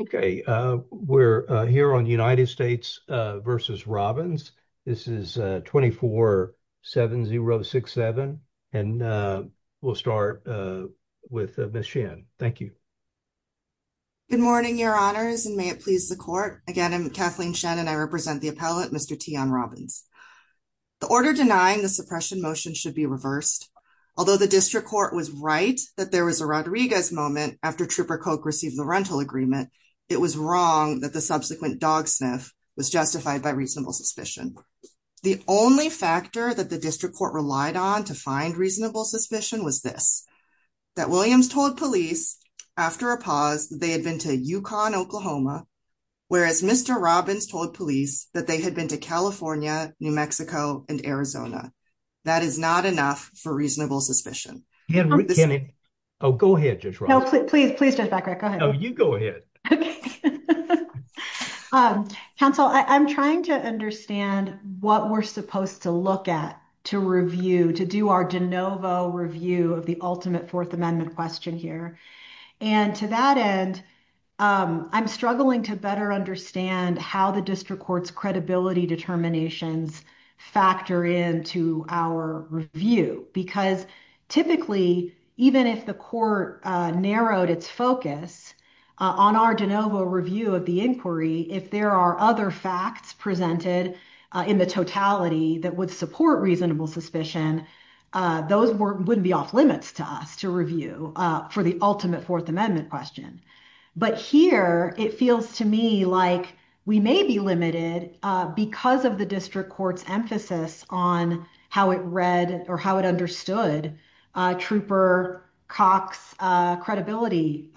Okay, we're here on United States versus Robbins. This is 247067. And we'll start with the machine. Thank you. Good morning, your honors and may it please the court again I'm Kathleen Shannon I represent the appellate Mr T on Robbins, the order denying the suppression motion should be reversed. Although the district court was right that there was a Rodriguez moment after trooper Coke received the rental agreement. It was wrong that the subsequent dog sniff was justified by reasonable suspicion. The only factor that the district court relied on to find reasonable suspicion was this that Williams told police after a pause, they had been to UConn, Oklahoma. Whereas Mr. Robbins told police that they had been to California, New Mexico, and Arizona. That is not enough for reasonable suspicion. Oh, go ahead. Please, please. You go ahead. Council, I'm trying to understand what we're supposed to look at to review to do our de novo review of the ultimate Fourth Amendment question here. And to that end, I'm struggling to better understand how the district courts credibility determinations factor into our review, because typically, even if the court narrowed its focus on our de novo review of the inquiry if there are other facts presented in the totality that would support reasonable suspicion. Those wouldn't be off limits to us to review for the ultimate Fourth Amendment question. But here it feels to me like we may be limited because of the district court's emphasis on how it read or how it understood trooper Cox credibility.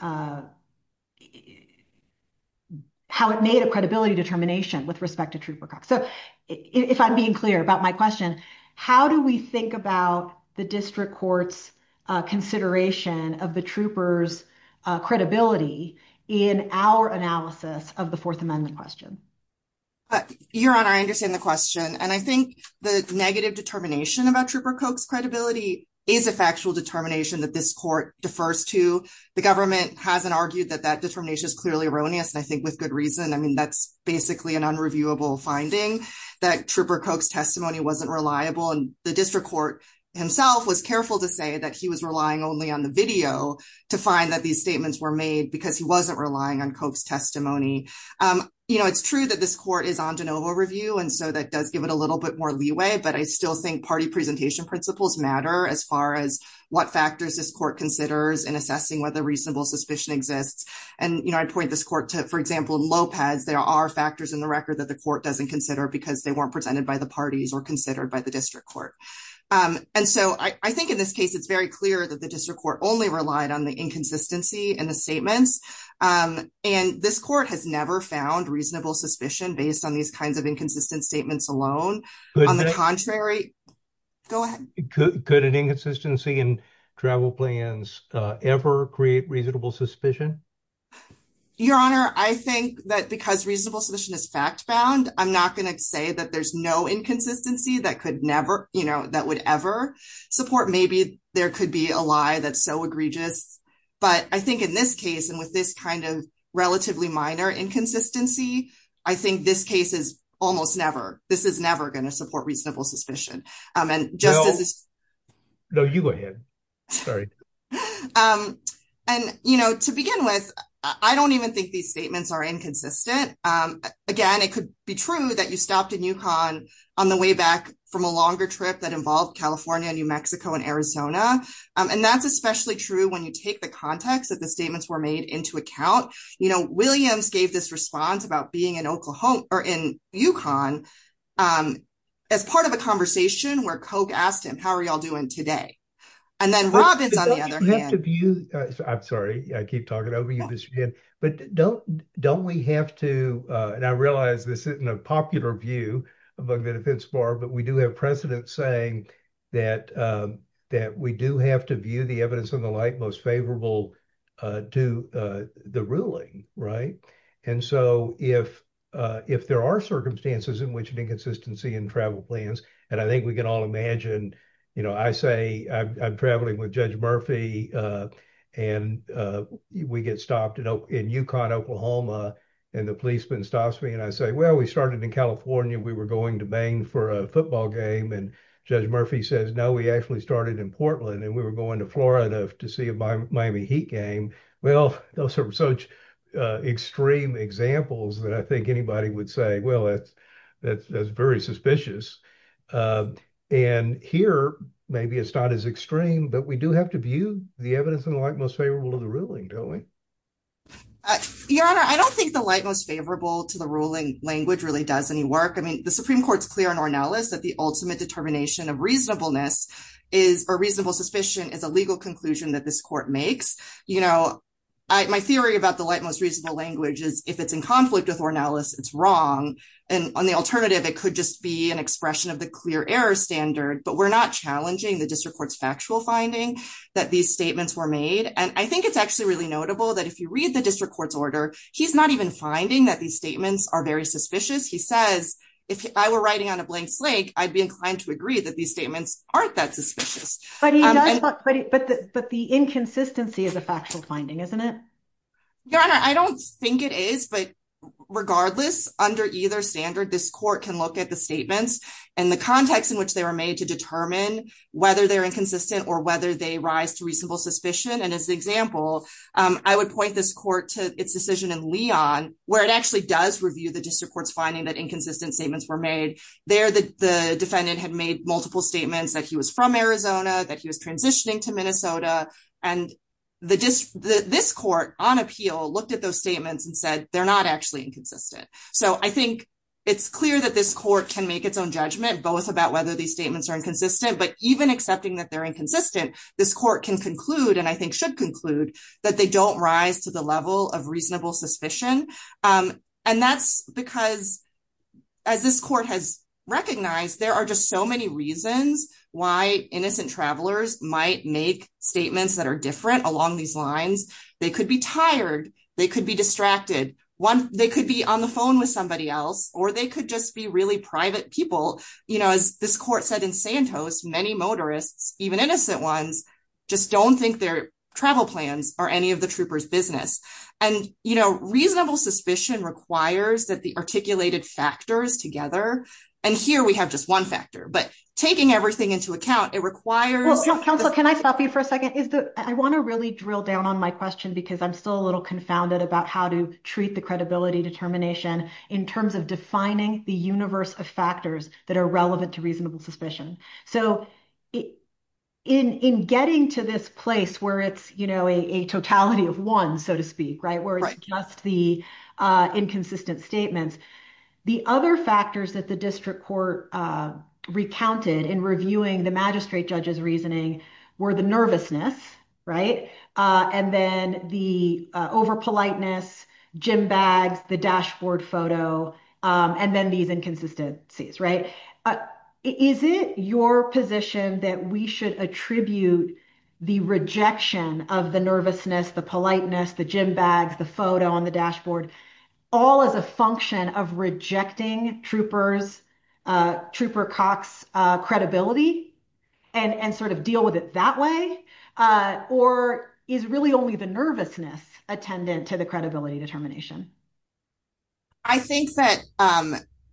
How it made a credibility determination with respect to trooper. So, if I'm being clear about my question, how do we think about the district courts consideration of the troopers credibility in our analysis of the Fourth Amendment question? Your honor, I understand the question and I think the negative determination about trooper coax credibility is a factual determination that this court defers to the government hasn't argued that that determination is clearly erroneous. And I think with good reason. I mean, that's basically an unreviewable finding that trooper coax testimony wasn't reliable and the district court himself was careful to say that he was relying only on the video to find that these statements were made because he wasn't relying on coax testimony. You know, it's true that this court is on de novo review. And so that does give it a little bit more leeway. But I still think party presentation principles matter as far as what factors this court considers and assessing whether reasonable suspicion exists. And I point this court to, for example, Lopez, there are factors in the record that the court doesn't consider because they weren't presented by the parties or considered by the district court. And so I think in this case, it's very clear that the district court only relied on the inconsistency and the statements. And this court has never found reasonable suspicion based on these kinds of inconsistent statements alone. On the contrary, go ahead. Could an inconsistency in travel plans ever create reasonable suspicion? Your Honor, I think that because reasonable suspicion is fact bound, I'm not going to say that there's no inconsistency that could never, you know, that would ever support maybe there could be a lie that's so egregious. But I think in this case, and with this kind of relatively minor inconsistency, I think this case is almost never, this is never going to support reasonable suspicion. No, you go ahead. Sorry. And, you know, to begin with, I don't even think these statements are inconsistent. Again, it could be true that you stopped in UConn on the way back from a longer trip that involved California, New Mexico and Arizona. And that's especially true when you take the context of the statements were made into account. You know, Williams gave this response about being in Oklahoma or in UConn as part of a conversation where Koch asked him, how are y'all doing today? And then Rob is on the other hand. I'm sorry, I keep talking over you, but don't we have to, and I realize this isn't a popular view among the defense bar, but we do have precedent saying that we do have to view the evidence in the light most favorable to the ruling, right? And so if there are circumstances in which an inconsistency in travel plans, and I think we can all imagine, you know, I say I'm traveling with Judge Murphy and we get stopped in UConn, Oklahoma, and the policeman stops me and I say, well, we started in California. We were going to Maine for a football game and Judge Murphy says, no, we actually started in Portland and we were going to Florida to see a Miami Heat game. Well, those are such extreme examples that I think anybody would say, well, that's very suspicious. And here, maybe it's not as extreme, but we do have to view the evidence in the light most favorable to the ruling, don't we? Your Honor, I don't think the light most favorable to the ruling language really does any work. I mean, the Supreme Court's clear in Ornelas that the ultimate determination of reasonableness or reasonable suspicion is a legal conclusion that this court makes. You know, my theory about the light most reasonable language is if it's in conflict with Ornelas, it's wrong. And on the alternative, it could just be an expression of the clear error standard, but we're not challenging the district court's factual finding that these statements were made. And I think it's actually really notable that if you read the district court's order, he's not even finding that these statements are very suspicious. He says, if I were writing on a blank slate, I'd be inclined to agree that these statements aren't that suspicious. But the inconsistency is a factual finding, isn't it? Your Honor, I don't think it is, but regardless, under either standard, this court can look at the statements and the context in which they were made to determine whether they're inconsistent or whether they rise to reasonable suspicion. And as an example, I would point this court to its decision in Leon, where it actually does review the district court's finding that inconsistent statements were made. There, the defendant had made multiple statements that he was from Arizona, that he was transitioning to Minnesota, and this court, on appeal, looked at those statements and said they're not actually inconsistent. So I think it's clear that this court can make its own judgment, both about whether these statements are inconsistent, but even accepting that they're inconsistent, this court can conclude, and I think should conclude, that they don't rise to the level of reasonable suspicion. And that's because, as this court has recognized, there are just so many reasons why innocent travelers might make statements that are different along these lines. They could be tired, they could be distracted, they could be on the phone with somebody else, or they could just be really private people. As this court said in Santos, many motorists, even innocent ones, just don't think their travel plans are any of the trooper's business. And, you know, reasonable suspicion requires that the articulated factors together, and here we have just one factor, but taking everything into account, it requires... Well, counsel, can I stop you for a second? I want to really drill down on my question because I'm still a little confounded about how to treat the credibility determination in terms of defining the universe of factors that are relevant to reasonable suspicion. So in getting to this place where it's, you know, a totality of one, so to speak, right, where it's just the inconsistent statements, the other factors that the district court recounted in reviewing the magistrate judge's reasoning were the nervousness, right, and then the over politeness, gym bags, the dashboard photo, and then these inconsistencies, right? Is it your position that we should attribute the rejection of the nervousness, the politeness, the gym bags, the photo on the dashboard, all as a function of rejecting trooper Cox's credibility and sort of deal with it that way? Or is really only the nervousness attendant to the credibility determination? I think that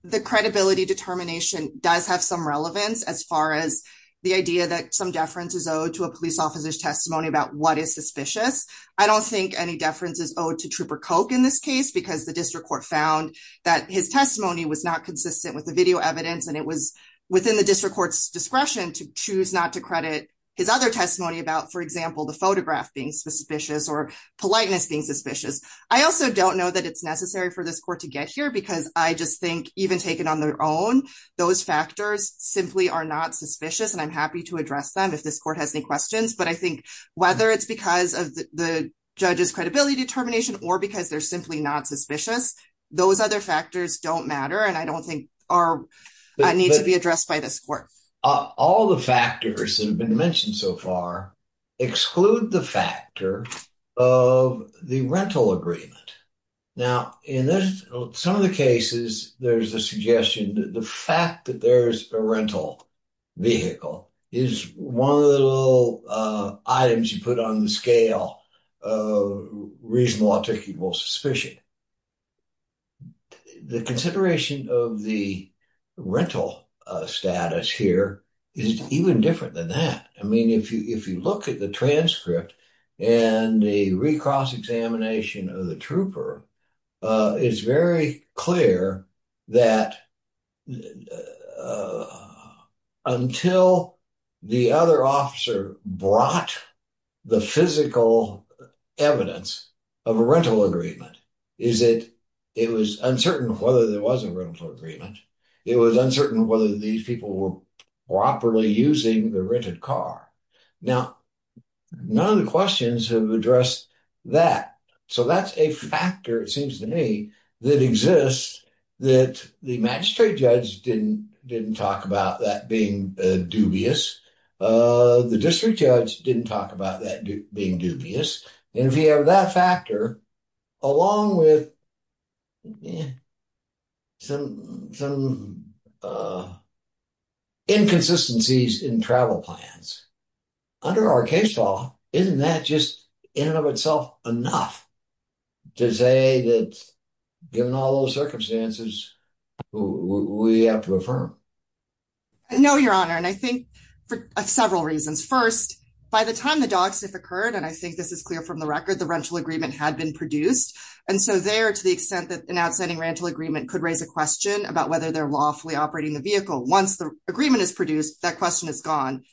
the credibility determination does have some relevance as far as the idea that some deference is owed to a police officer's testimony about what is suspicious. I don't think any deference is owed to trooper Coke in this case because the district court found that his testimony was not consistent with the video evidence and it was within the district court's discretion to choose not to credit his other testimony about, for example, the photograph being suspicious or politeness being suspicious. I also don't know that it's necessary for this court to get here because I just think even taken on their own, those factors simply are not suspicious and I'm happy to address them if this court has any questions, but I think whether it's because of the judge's credibility determination or because they're simply not suspicious, those other factors don't matter and I don't think need to be addressed by this court. All the factors that have been mentioned so far exclude the factor of the rental agreement. Now, in some of the cases, there's a suggestion that the fact that there's a rental vehicle is one of the little items you put on the scale of reasonable articulable suspicion. The consideration of the rental status here is even different than that. If you look at the transcript and the recross examination of the trooper, it's very clear that until the other officer brought the physical evidence of a rental agreement, it was uncertain whether there was a rental agreement. It was uncertain whether these people were properly using the rented car. Now, none of the questions have addressed that, so that's a factor, it seems to me, that exists that the magistrate judge didn't talk about that being dubious. The district judge didn't talk about that being dubious, and if you have that factor, along with some inconsistencies in travel plans, under our case law, isn't that just in and of itself enough to say that given all those circumstances, we have to affirm? No, Your Honor, and I think for several reasons. First, by the time the dogs have occurred, and I think this is clear from the record, the rental agreement had been produced. And so there, to the extent that an outstanding rental agreement could raise a question about whether they're lawfully operating the vehicle, once the agreement is produced, that question is gone.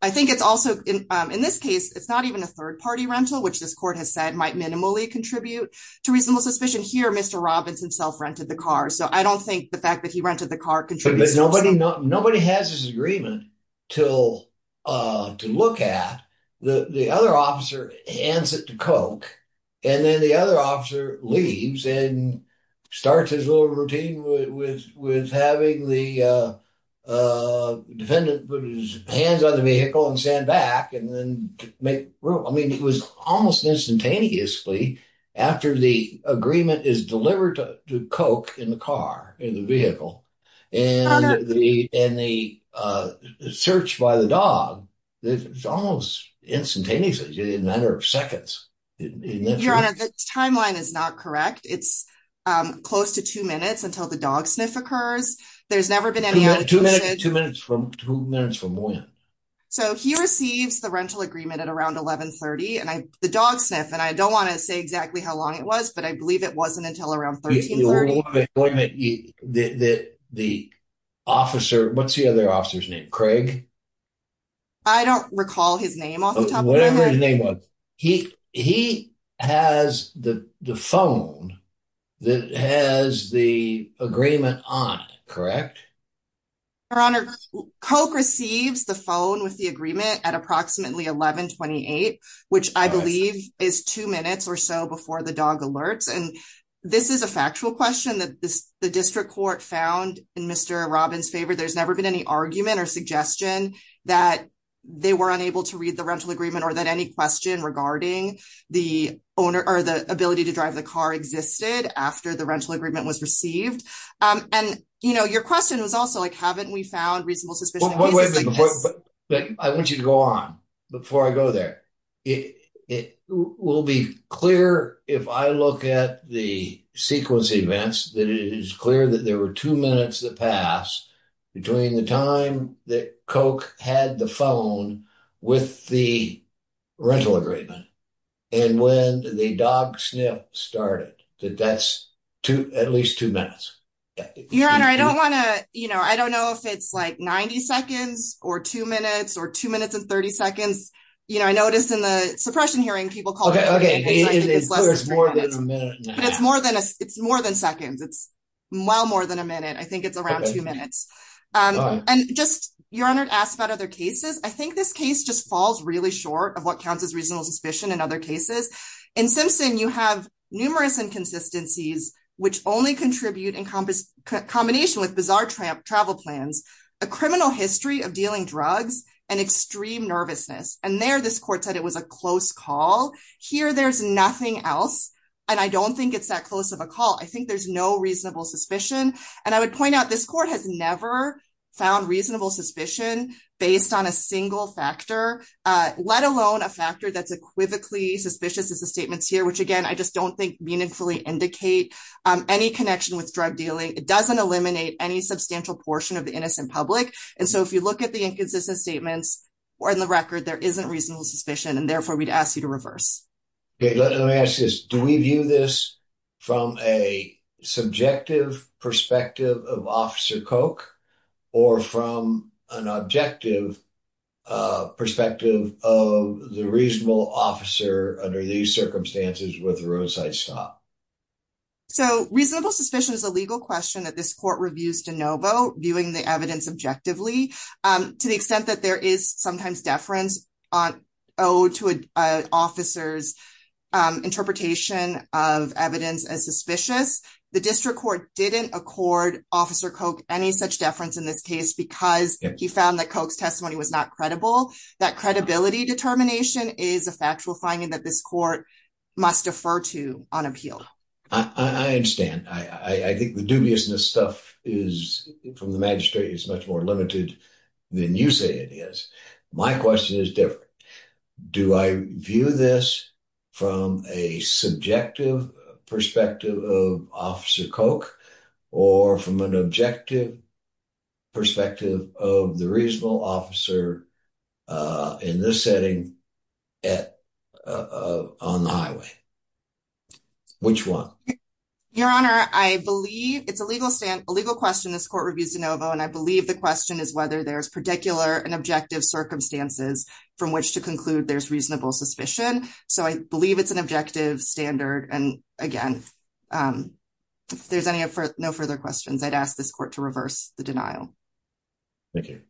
I think it's also, in this case, it's not even a third-party rental, which this court has said might minimally contribute to reasonable suspicion. Here, Mr. Robbins himself rented the car, so I don't think the fact that he rented the car contributes. Nobody has this agreement to look at. The other officer hands it to Koch, and then the other officer leaves and starts his little routine with having the defendant put his hands on the vehicle and stand back and then make room. I mean, it was almost instantaneously, after the agreement is delivered to Koch in the car, in the vehicle, and the search by the dog, it's almost instantaneously, in a matter of seconds. Your Honor, the timeline is not correct. It's close to two minutes until the dog sniff occurs. There's never been any... Two minutes from when? So, he receives the rental agreement at around 1130, and the dog sniff, and I don't want to say exactly how long it was, but I believe it wasn't until around 1330. The officer, what's the other officer's name? Craig? I don't recall his name off the top of my head. Whatever his name was. He has the phone that has the agreement on it, correct? Your Honor, Koch receives the phone with the agreement at approximately 1128, which I believe is two minutes or so before the dog alerts. And this is a factual question that the district court found in Mr. Robbins' favor. There's never been any argument or suggestion that they were unable to read the rental agreement or that any question regarding the ability to drive the car existed after the rental agreement was received. And your question was also like, haven't we found reasonable suspicion in cases like this? I want you to go on before I go there. It will be clear if I look at the sequence events, that it is clear that there were two minutes that passed between the time that Koch had the phone with the rental agreement and when the dog sniff started. That's at least two minutes. Your Honor, I don't want to, you know, I don't know if it's like 90 seconds or two minutes or two minutes and 30 seconds. You know, I noticed in the suppression hearing, people call it more than a minute. It's more than a, it's more than seconds. It's well more than a minute. I think it's around two minutes. And just, Your Honor, to ask about other cases, I think this case just falls really short of what counts as reasonable suspicion in other cases. In Simpson, you have numerous inconsistencies, which only contribute in combination with bizarre travel plans, a criminal history of dealing drugs, and extreme nervousness. And there, this court said it was a close call. Here, there's nothing else. And I don't think it's that close of a call. I think there's no reasonable suspicion. And I would point out this court has never found reasonable suspicion based on a single factor, let alone a factor that's equivocally suspicious as the statements here, which, again, I just don't think meaningfully indicate any connection with drug dealing. It doesn't eliminate any substantial portion of the innocent public. And so if you look at the inconsistent statements or in the record, there isn't reasonable suspicion and therefore we'd ask you to reverse. Let me ask this. Do we view this from a subjective perspective of Officer Koch or from an objective perspective of the reasonable officer under these circumstances with a roadside stop? So reasonable suspicion is a legal question that this court reviews de novo, viewing the evidence objectively, to the extent that there is sometimes deference owed to an officer's interpretation of evidence as suspicious. The district court didn't accord Officer Koch any such deference in this case because he found that Koch's testimony was not credible. That credibility determination is a factual finding that this court must defer to on appeal. I understand. I think the dubiousness stuff from the magistrate is much more limited than you say it is. My question is different. Do I view this from a subjective perspective of Officer Koch or from an objective perspective of the reasonable officer in this setting on the highway? Which one? Your Honor, I believe it's a legal question this court reviews de novo, and I believe the question is whether there's particular and objective circumstances from which to conclude there's reasonable suspicion. So I believe it's an objective standard. And again, if there's no further questions, I'd ask this court to reverse the denial. Thank you.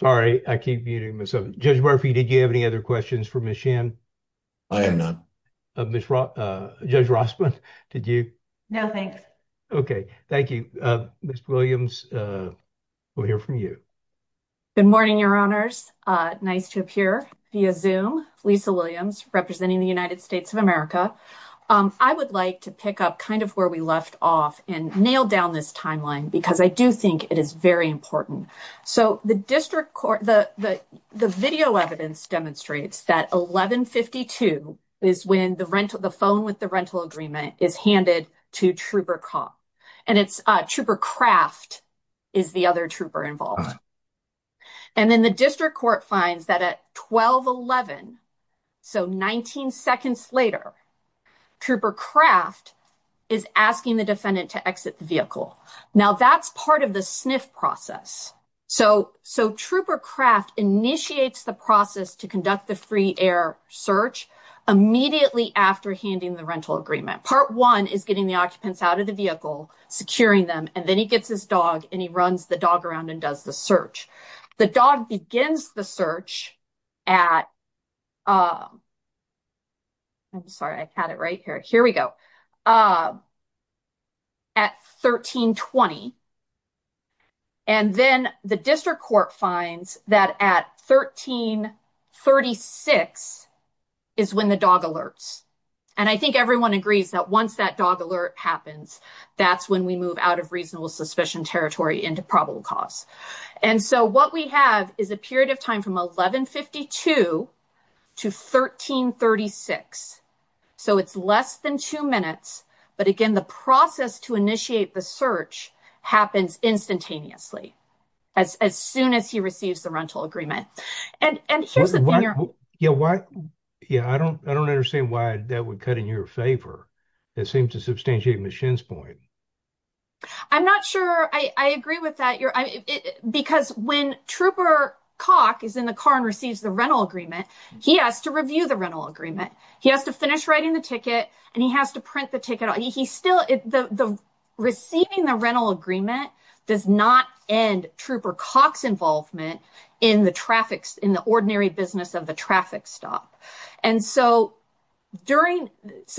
Sorry, I keep muting myself. Judge Murphy, did you have any other questions for Ms. Shin? I have none. Judge Rossman, did you? No, thanks. Okay, thank you. Ms. Williams, we'll hear from you. Good morning, Your Honors. Nice to appear via Zoom. Lisa Williams, representing the United States of America. I would like to pick up kind of where we left off and nail down this timeline because I do think it is very important. So the district court, the video evidence demonstrates that 1152 is when the phone with the rental agreement is handed to Trooper Koch. And it's Trooper Kraft is the other trooper involved. And then the district court finds that at 1211, so 19 seconds later, Trooper Kraft is asking the defendant to exit the vehicle. Now, that's part of the sniff process. So Trooper Kraft initiates the process to conduct the free air search immediately after handing the rental agreement. Part one is getting the occupants out of the vehicle, securing them, and then he gets his dog and he runs the dog around and does the search. The dog begins the search at 1320. And then the district court finds that at 1336 is when the dog alerts. And I think everyone agrees that once that dog alert happens, that's when we move out of reasonable suspicion territory into probable cause. And so what we have is a period of time from 1152 to 1336. So it's less than two minutes. But again, the process to initiate the search happens instantaneously as soon as he receives the rental agreement. And here's the thing. Yeah, I don't understand why that would cut in your favor. It seems to substantiate Ms. Shinn's point. I'm not sure I agree with that. Because when Trooper Cock is in the car and receives the rental agreement, he has to review the rental agreement. He has to finish writing the ticket and he has to print the ticket. Receiving the rental agreement does not end Trooper Cock's involvement in the ordinary business of the traffic stop. And so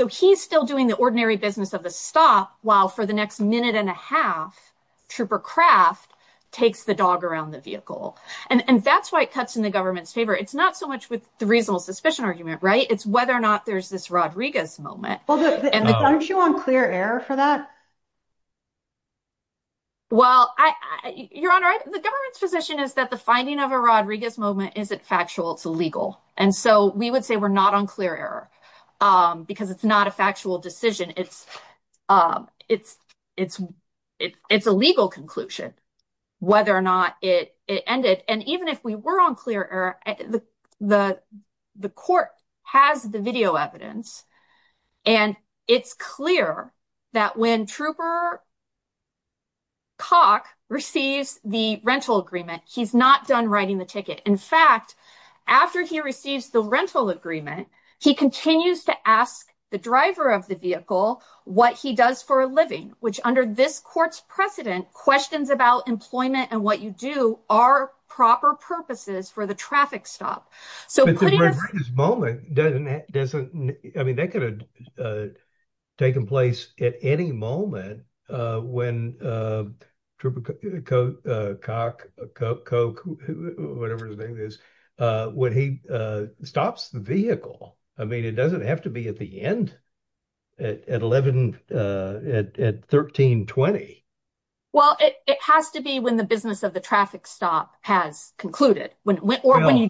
he's still doing the ordinary business of the stop while for the next minute and a half, Trooper Craft takes the dog around the vehicle. And that's why it cuts in the government's favor. It's not so much with the reasonable suspicion argument, right? It's whether or not there's this Rodriguez moment. Aren't you on clear air for that? Well, Your Honor, the government's position is that the finding of a Rodriguez moment isn't factual. It's illegal. And so we would say we're not on clear air because it's not a factual decision. It's a legal conclusion whether or not it ended. And even if we were on clear air, the court has the video evidence. And it's clear that when Trooper Cock receives the rental agreement, he's not done writing the ticket. In fact, after he receives the rental agreement, he continues to ask the driver of the vehicle what he does for a living, which under this court's precedent, questions about employment and what you do are proper purposes for the traffic stop. But the Rodriguez moment doesn't, I mean, that could have taken place at any moment when Trooper Cock, whatever his name is, when he stops the vehicle. I mean, it doesn't have to be at the end, at 11, at 1320. Well, it has to be when the business of the traffic stop has concluded or when you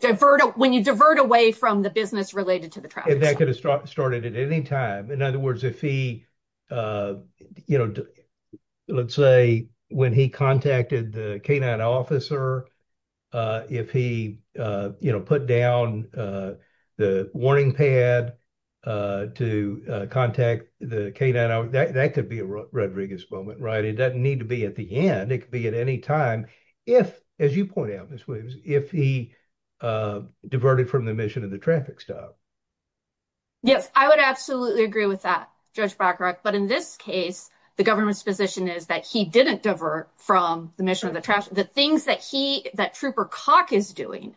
divert away from the business related to the traffic stop. And that could have started at any time. In other words, if he, you know, let's say when he contacted the canine officer, if he put down the warning pad to contact the canine, that could be a Rodriguez moment, right? It doesn't need to be at the end. It could be at any time. If, as you point out, Ms. Williams, if he diverted from the mission of the traffic stop. Yes, I would absolutely agree with that, Judge Blackrock. But in this case, the government's position is that he didn't divert from the mission of the traffic stop. The things that he, that Trooper Cock is doing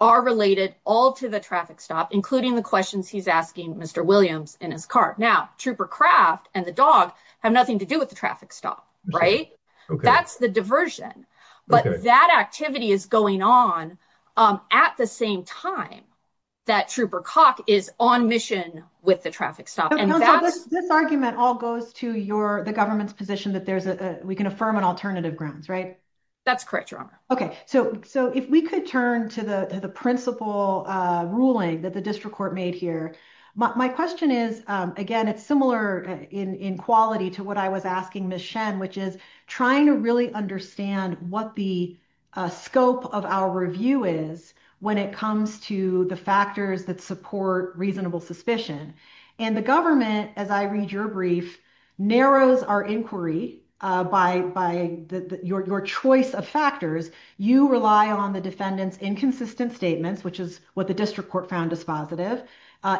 are related all to the traffic stop, including the questions he's asking Mr. Williams in his car. Now, Trooper Craft and the dog have nothing to do with the traffic stop, right? That's the diversion. But that activity is going on at the same time that Trooper Cock is on mission with the traffic stop. This argument all goes to your, the government's position that there's a, we can affirm an alternative grounds, right? That's correct, Your Honor. Okay. So, so if we could turn to the principle ruling that the district court made here. My question is, again, it's similar in quality to what I was asking Ms. Shen, which is trying to really understand what the scope of our review is when it comes to the factors that support reasonable suspicion. And the government, as I read your brief, narrows our inquiry by your choice of factors. You rely on the defendant's inconsistent statements, which is what the district court found as positive.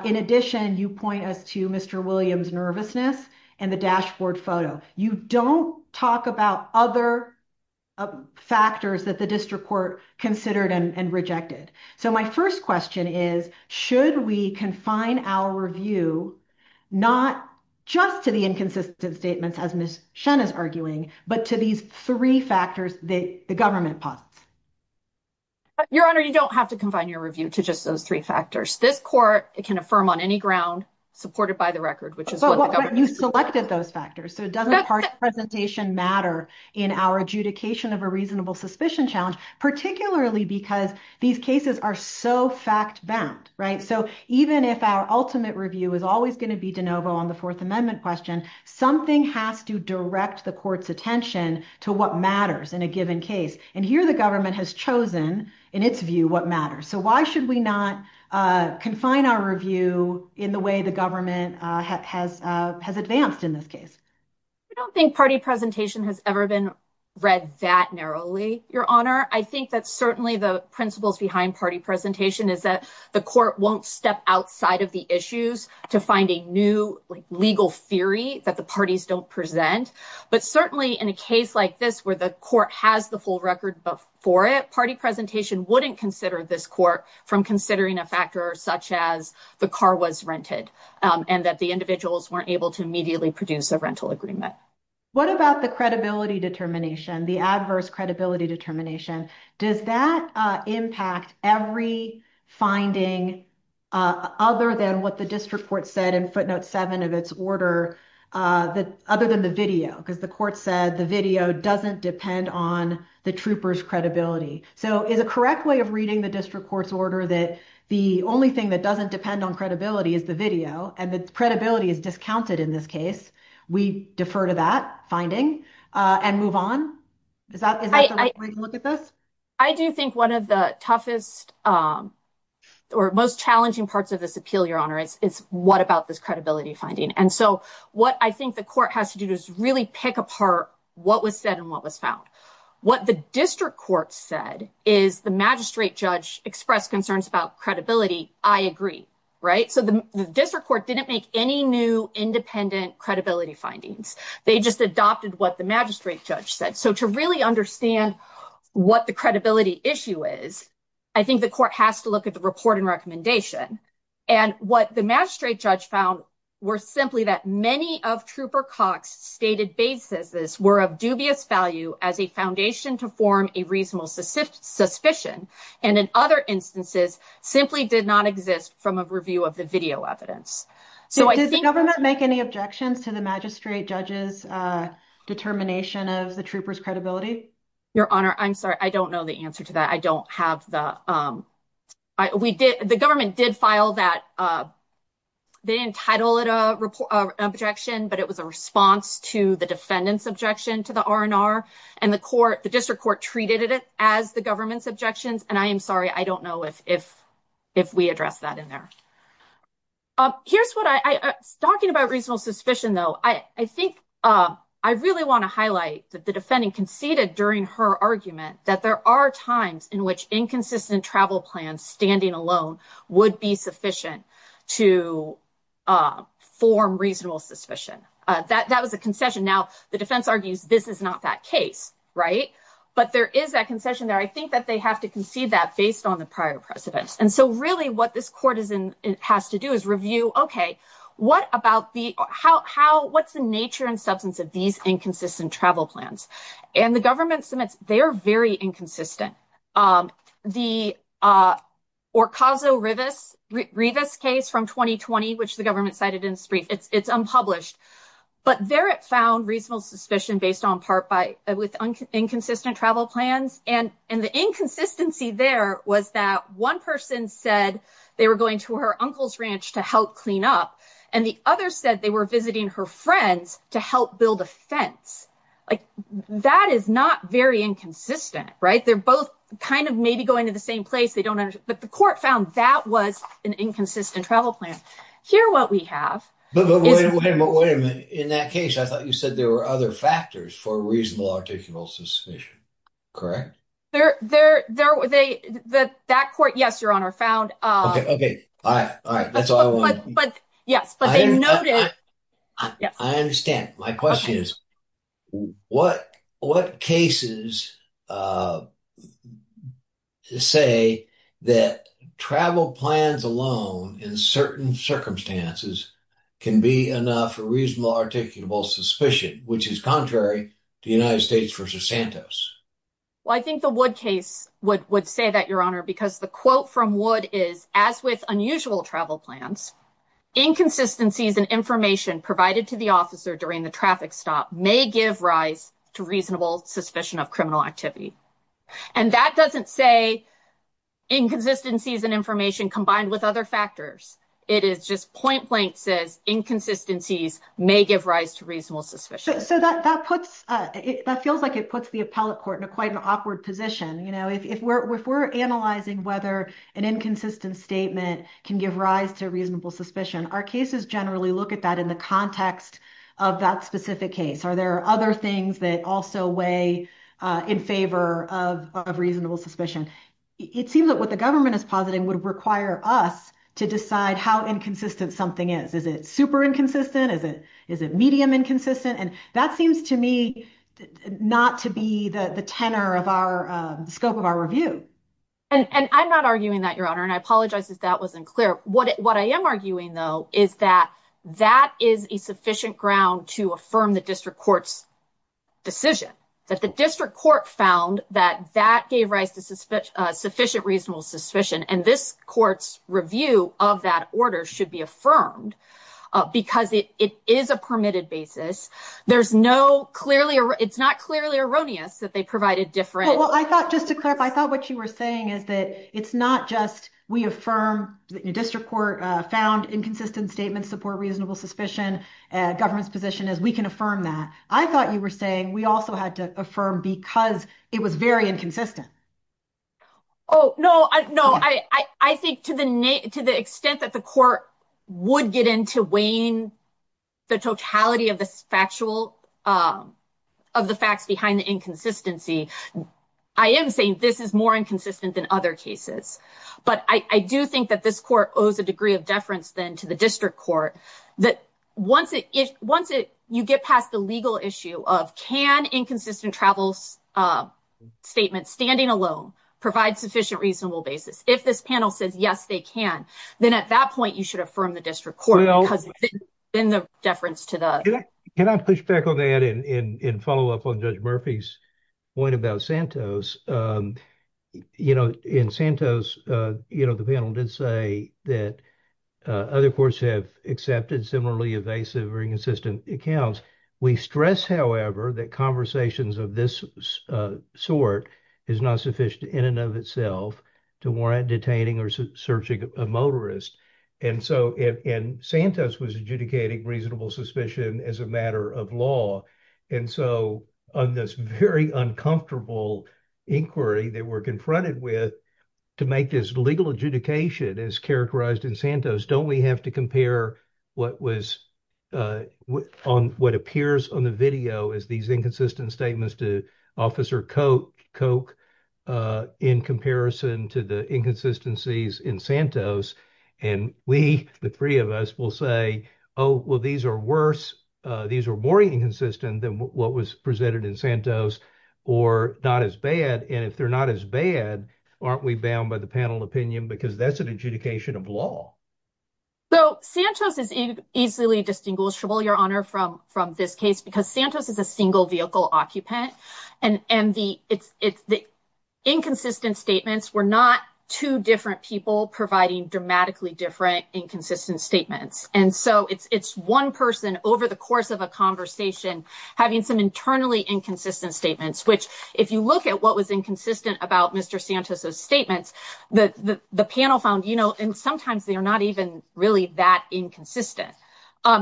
In addition, you point us to Mr. Williams' nervousness and the dashboard photo. You don't talk about other factors that the district court considered and rejected. So my first question is, should we confine our review not just to the inconsistent statements, as Ms. Shen is arguing, but to these three factors that the government posits? Your Honor, you don't have to confine your review to just those three factors. This court can affirm on any ground supported by the record, which is what the government— So even if our ultimate review is always going to be de novo on the Fourth Amendment question, something has to direct the court's attention to what matters in a given case. And here the government has chosen, in its view, what matters. So why should we not confine our review in the way the government has advanced in this case? I don't think party presentation has ever been read that narrowly, Your Honor. I think that certainly the principles behind party presentation is that the court won't step outside of the issues to find a new legal theory that the parties don't present. But certainly in a case like this where the court has the full record for it, party presentation wouldn't consider this court from considering a factor such as the car was rented and that the individuals weren't able to immediately produce a rental agreement. What about the credibility determination, the adverse credibility determination? Does that impact every finding other than what the district court said in footnote 7 of its order, other than the video? Because the court said the video doesn't depend on the trooper's credibility. So is a correct way of reading the district court's order that the only thing that doesn't depend on credibility is the video and the credibility is discounted in this case? We defer to that finding and move on. Is that a way to look at this? I do think one of the toughest or most challenging parts of this appeal, Your Honor, is what about this credibility finding? And so what I think the court has to do is really pick apart what was said and what was found. What the district court said is the magistrate judge expressed concerns about credibility. I agree. Right. So the district court didn't make any new independent credibility findings. They just adopted what the magistrate judge said. So to really understand what the credibility issue is, I think the court has to look at the report and recommendation. And what the magistrate judge found were simply that many of Trooper Cox stated bases were of dubious value as a foundation to form a reasonable suspicion. And in other instances, simply did not exist from a review of the video evidence. So I think government make any objections to the magistrate judge's determination of the troopers credibility? Your Honor, I'm sorry. I don't know the answer to that. I don't have the we did. The government did file that. They entitled it a report objection, but it was a response to the defendant's objection to the R&R and the court. The district court treated it as the government's objections. And I am sorry. I don't know if if if we address that in there. Here's what I was talking about. Reasonable suspicion, though, I think I really want to highlight that the defendant conceded during her argument that there are times. In which inconsistent travel plans standing alone would be sufficient to form reasonable suspicion that that was a concession. Now, the defense argues this is not that case. Right. But there is that concession there. I think that they have to concede that based on the prior precedents. And so really what this court is in has to do is review. OK, what about the how how what's the nature and substance of these inconsistent travel plans? And the government submits. They are very inconsistent. The Orcaso-Rivas case from 2020, which the government cited in its brief, it's unpublished. But there it found reasonable suspicion based on part by with inconsistent travel plans. And and the inconsistency there was that one person said they were going to her uncle's ranch to help clean up. And the other said they were visiting her friends to help build a fence like that is not very inconsistent. Right. They're both kind of maybe going to the same place. They don't. But the court found that was an inconsistent travel plan here. What we have in that case, I thought you said there were other factors for reasonable, articulable suspicion. Correct. They're there. They that that court. Yes, your honor found. OK. All right. All right. That's all I want. But yes, but I know that I understand. My question is what what cases say that travel plans alone in certain circumstances can be enough for reasonable, articulable suspicion, which is contrary to the United States versus Santos? Well, I think the Wood case would say that, your honor, because the quote from Wood is, as with unusual travel plans, inconsistencies and information provided to the officer during the traffic stop may give rise to reasonable suspicion of criminal activity. And that doesn't say inconsistencies and information combined with other factors. It is just point blank says inconsistencies may give rise to reasonable suspicion. So that puts it that feels like it puts the appellate court in a quite an awkward position. You know, if we're if we're analyzing whether an inconsistent statement can give rise to reasonable suspicion, our cases generally look at that in the context of that specific case. Are there other things that also weigh in favor of reasonable suspicion? It seems that what the government is positing would require us to decide how inconsistent something is. Is it super inconsistent? Is it is it medium inconsistent? And that seems to me not to be the tenor of our scope of our review. And I'm not arguing that, your honor. And I apologize if that wasn't clear. What what I am arguing, though, is that that is a sufficient ground to affirm the district court's decision that the district court found that that gave rise to sufficient reasonable suspicion. And this court's review of that order should be affirmed because it is a permitted basis. There's no clearly or it's not clearly erroneous that they provide a different. Well, I thought just to clarify, I thought what you were saying is that it's not just we affirm the district court found inconsistent statements support reasonable suspicion. And government's position is we can affirm that. I thought you were saying we also had to affirm because it was very inconsistent. Oh, no, no. I think to the to the extent that the court would get into weighing the totality of the factual of the facts behind the inconsistency, I am saying this is more inconsistent than other cases. But I do think that this court owes a degree of deference then to the district court that once it if once you get past the legal issue of can inconsistent travels statement standing alone provide sufficient reasonable basis. If this panel says, yes, they can. Then at that point, you should affirm the district court. In the deference to that, can I push back on that and follow up on Judge Murphy's point about Santos? You know, in Santos, you know, the panel did say that other courts have accepted similarly invasive or inconsistent accounts. We stress, however, that conversations of this sort is not sufficient in and of itself to warrant detaining or searching a motorist. And so and Santos was adjudicating reasonable suspicion as a matter of law. And so on this very uncomfortable inquiry that we're confronted with to make this legal adjudication is characterized in Santos. Don't we have to compare what was on what appears on the video is these inconsistent statements to Officer Coke Coke in comparison to the inconsistencies in Santos. And we, the three of us will say, oh, well, these are worse. These are more inconsistent than what was presented in Santos or not as bad. And if they're not as bad, aren't we bound by the panel opinion? Because that's an adjudication of law. So Santos is easily distinguishable, Your Honor, from from this case, because Santos is a single vehicle occupant. And and the it's the inconsistent statements were not two different people providing dramatically different inconsistent statements. And so it's one person over the course of a conversation having some internally inconsistent statements, which if you look at what was inconsistent about Mr. Santos, those statements that the panel found, you know, and sometimes they are not even really that inconsistent.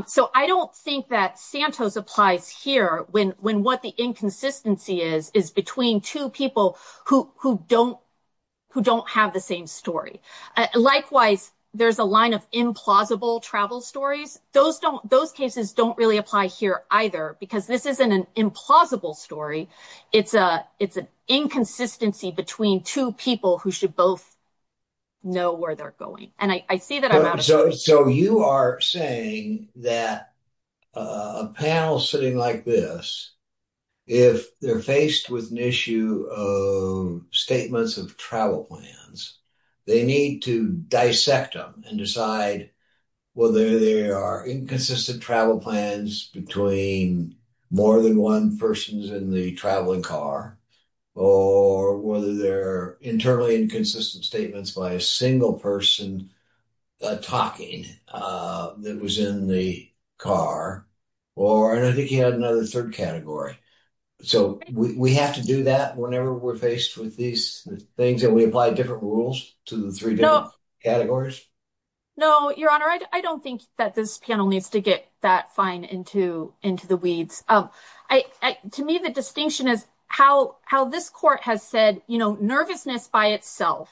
So I don't think that Santos applies here when when what the inconsistency is, is between two people who who don't who don't have the same story. Likewise, there's a line of implausible travel stories. Those don't those cases don't really apply here either, because this isn't an implausible story. It's a it's an inconsistency between two people who should both know where they're going. So you are saying that a panel sitting like this, if they're faced with an issue of statements of travel plans, they need to dissect them and decide whether they are inconsistent travel plans between more than one persons in the traveling car or whether they're internally inconsistent statements by a single person talking that was in the car or another category. So we have to do that whenever we're faced with these things that we apply different rules to the three categories. No, Your Honor, I don't think that this panel needs to get that fine into into the weeds. To me, the distinction is how how this court has said, you know, nervousness by itself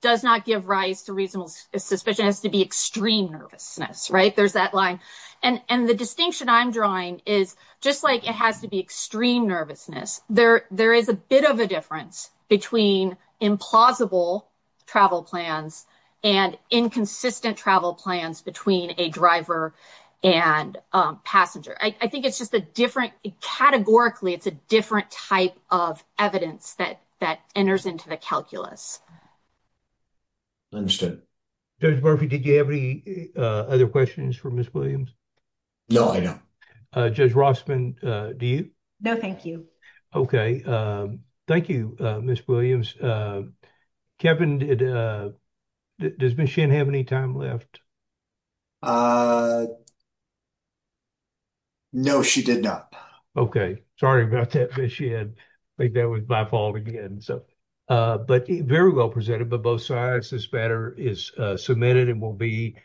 does not give rise to reasonable suspicion has to be extreme nervousness. Right. There's that line. And the distinction I'm drawing is just like it has to be extreme nervousness. There there is a bit of a difference between implausible travel plans and inconsistent travel plans between a driver and passenger. I think it's just a different categorically. It's a different type of evidence that that enters into the calculus. Understood. Judge Murphy, did you have any other questions for Ms. Williams? No, I don't. Judge Rossman, do you? No, thank you. OK, thank you, Ms. Williams. Kevin, does Ms. Shinn have any time left? No, she did not. OK, sorry about that, Ms. Shinn. I think that was my fault again. But very well presented by both sides. This matter is submitted and will be.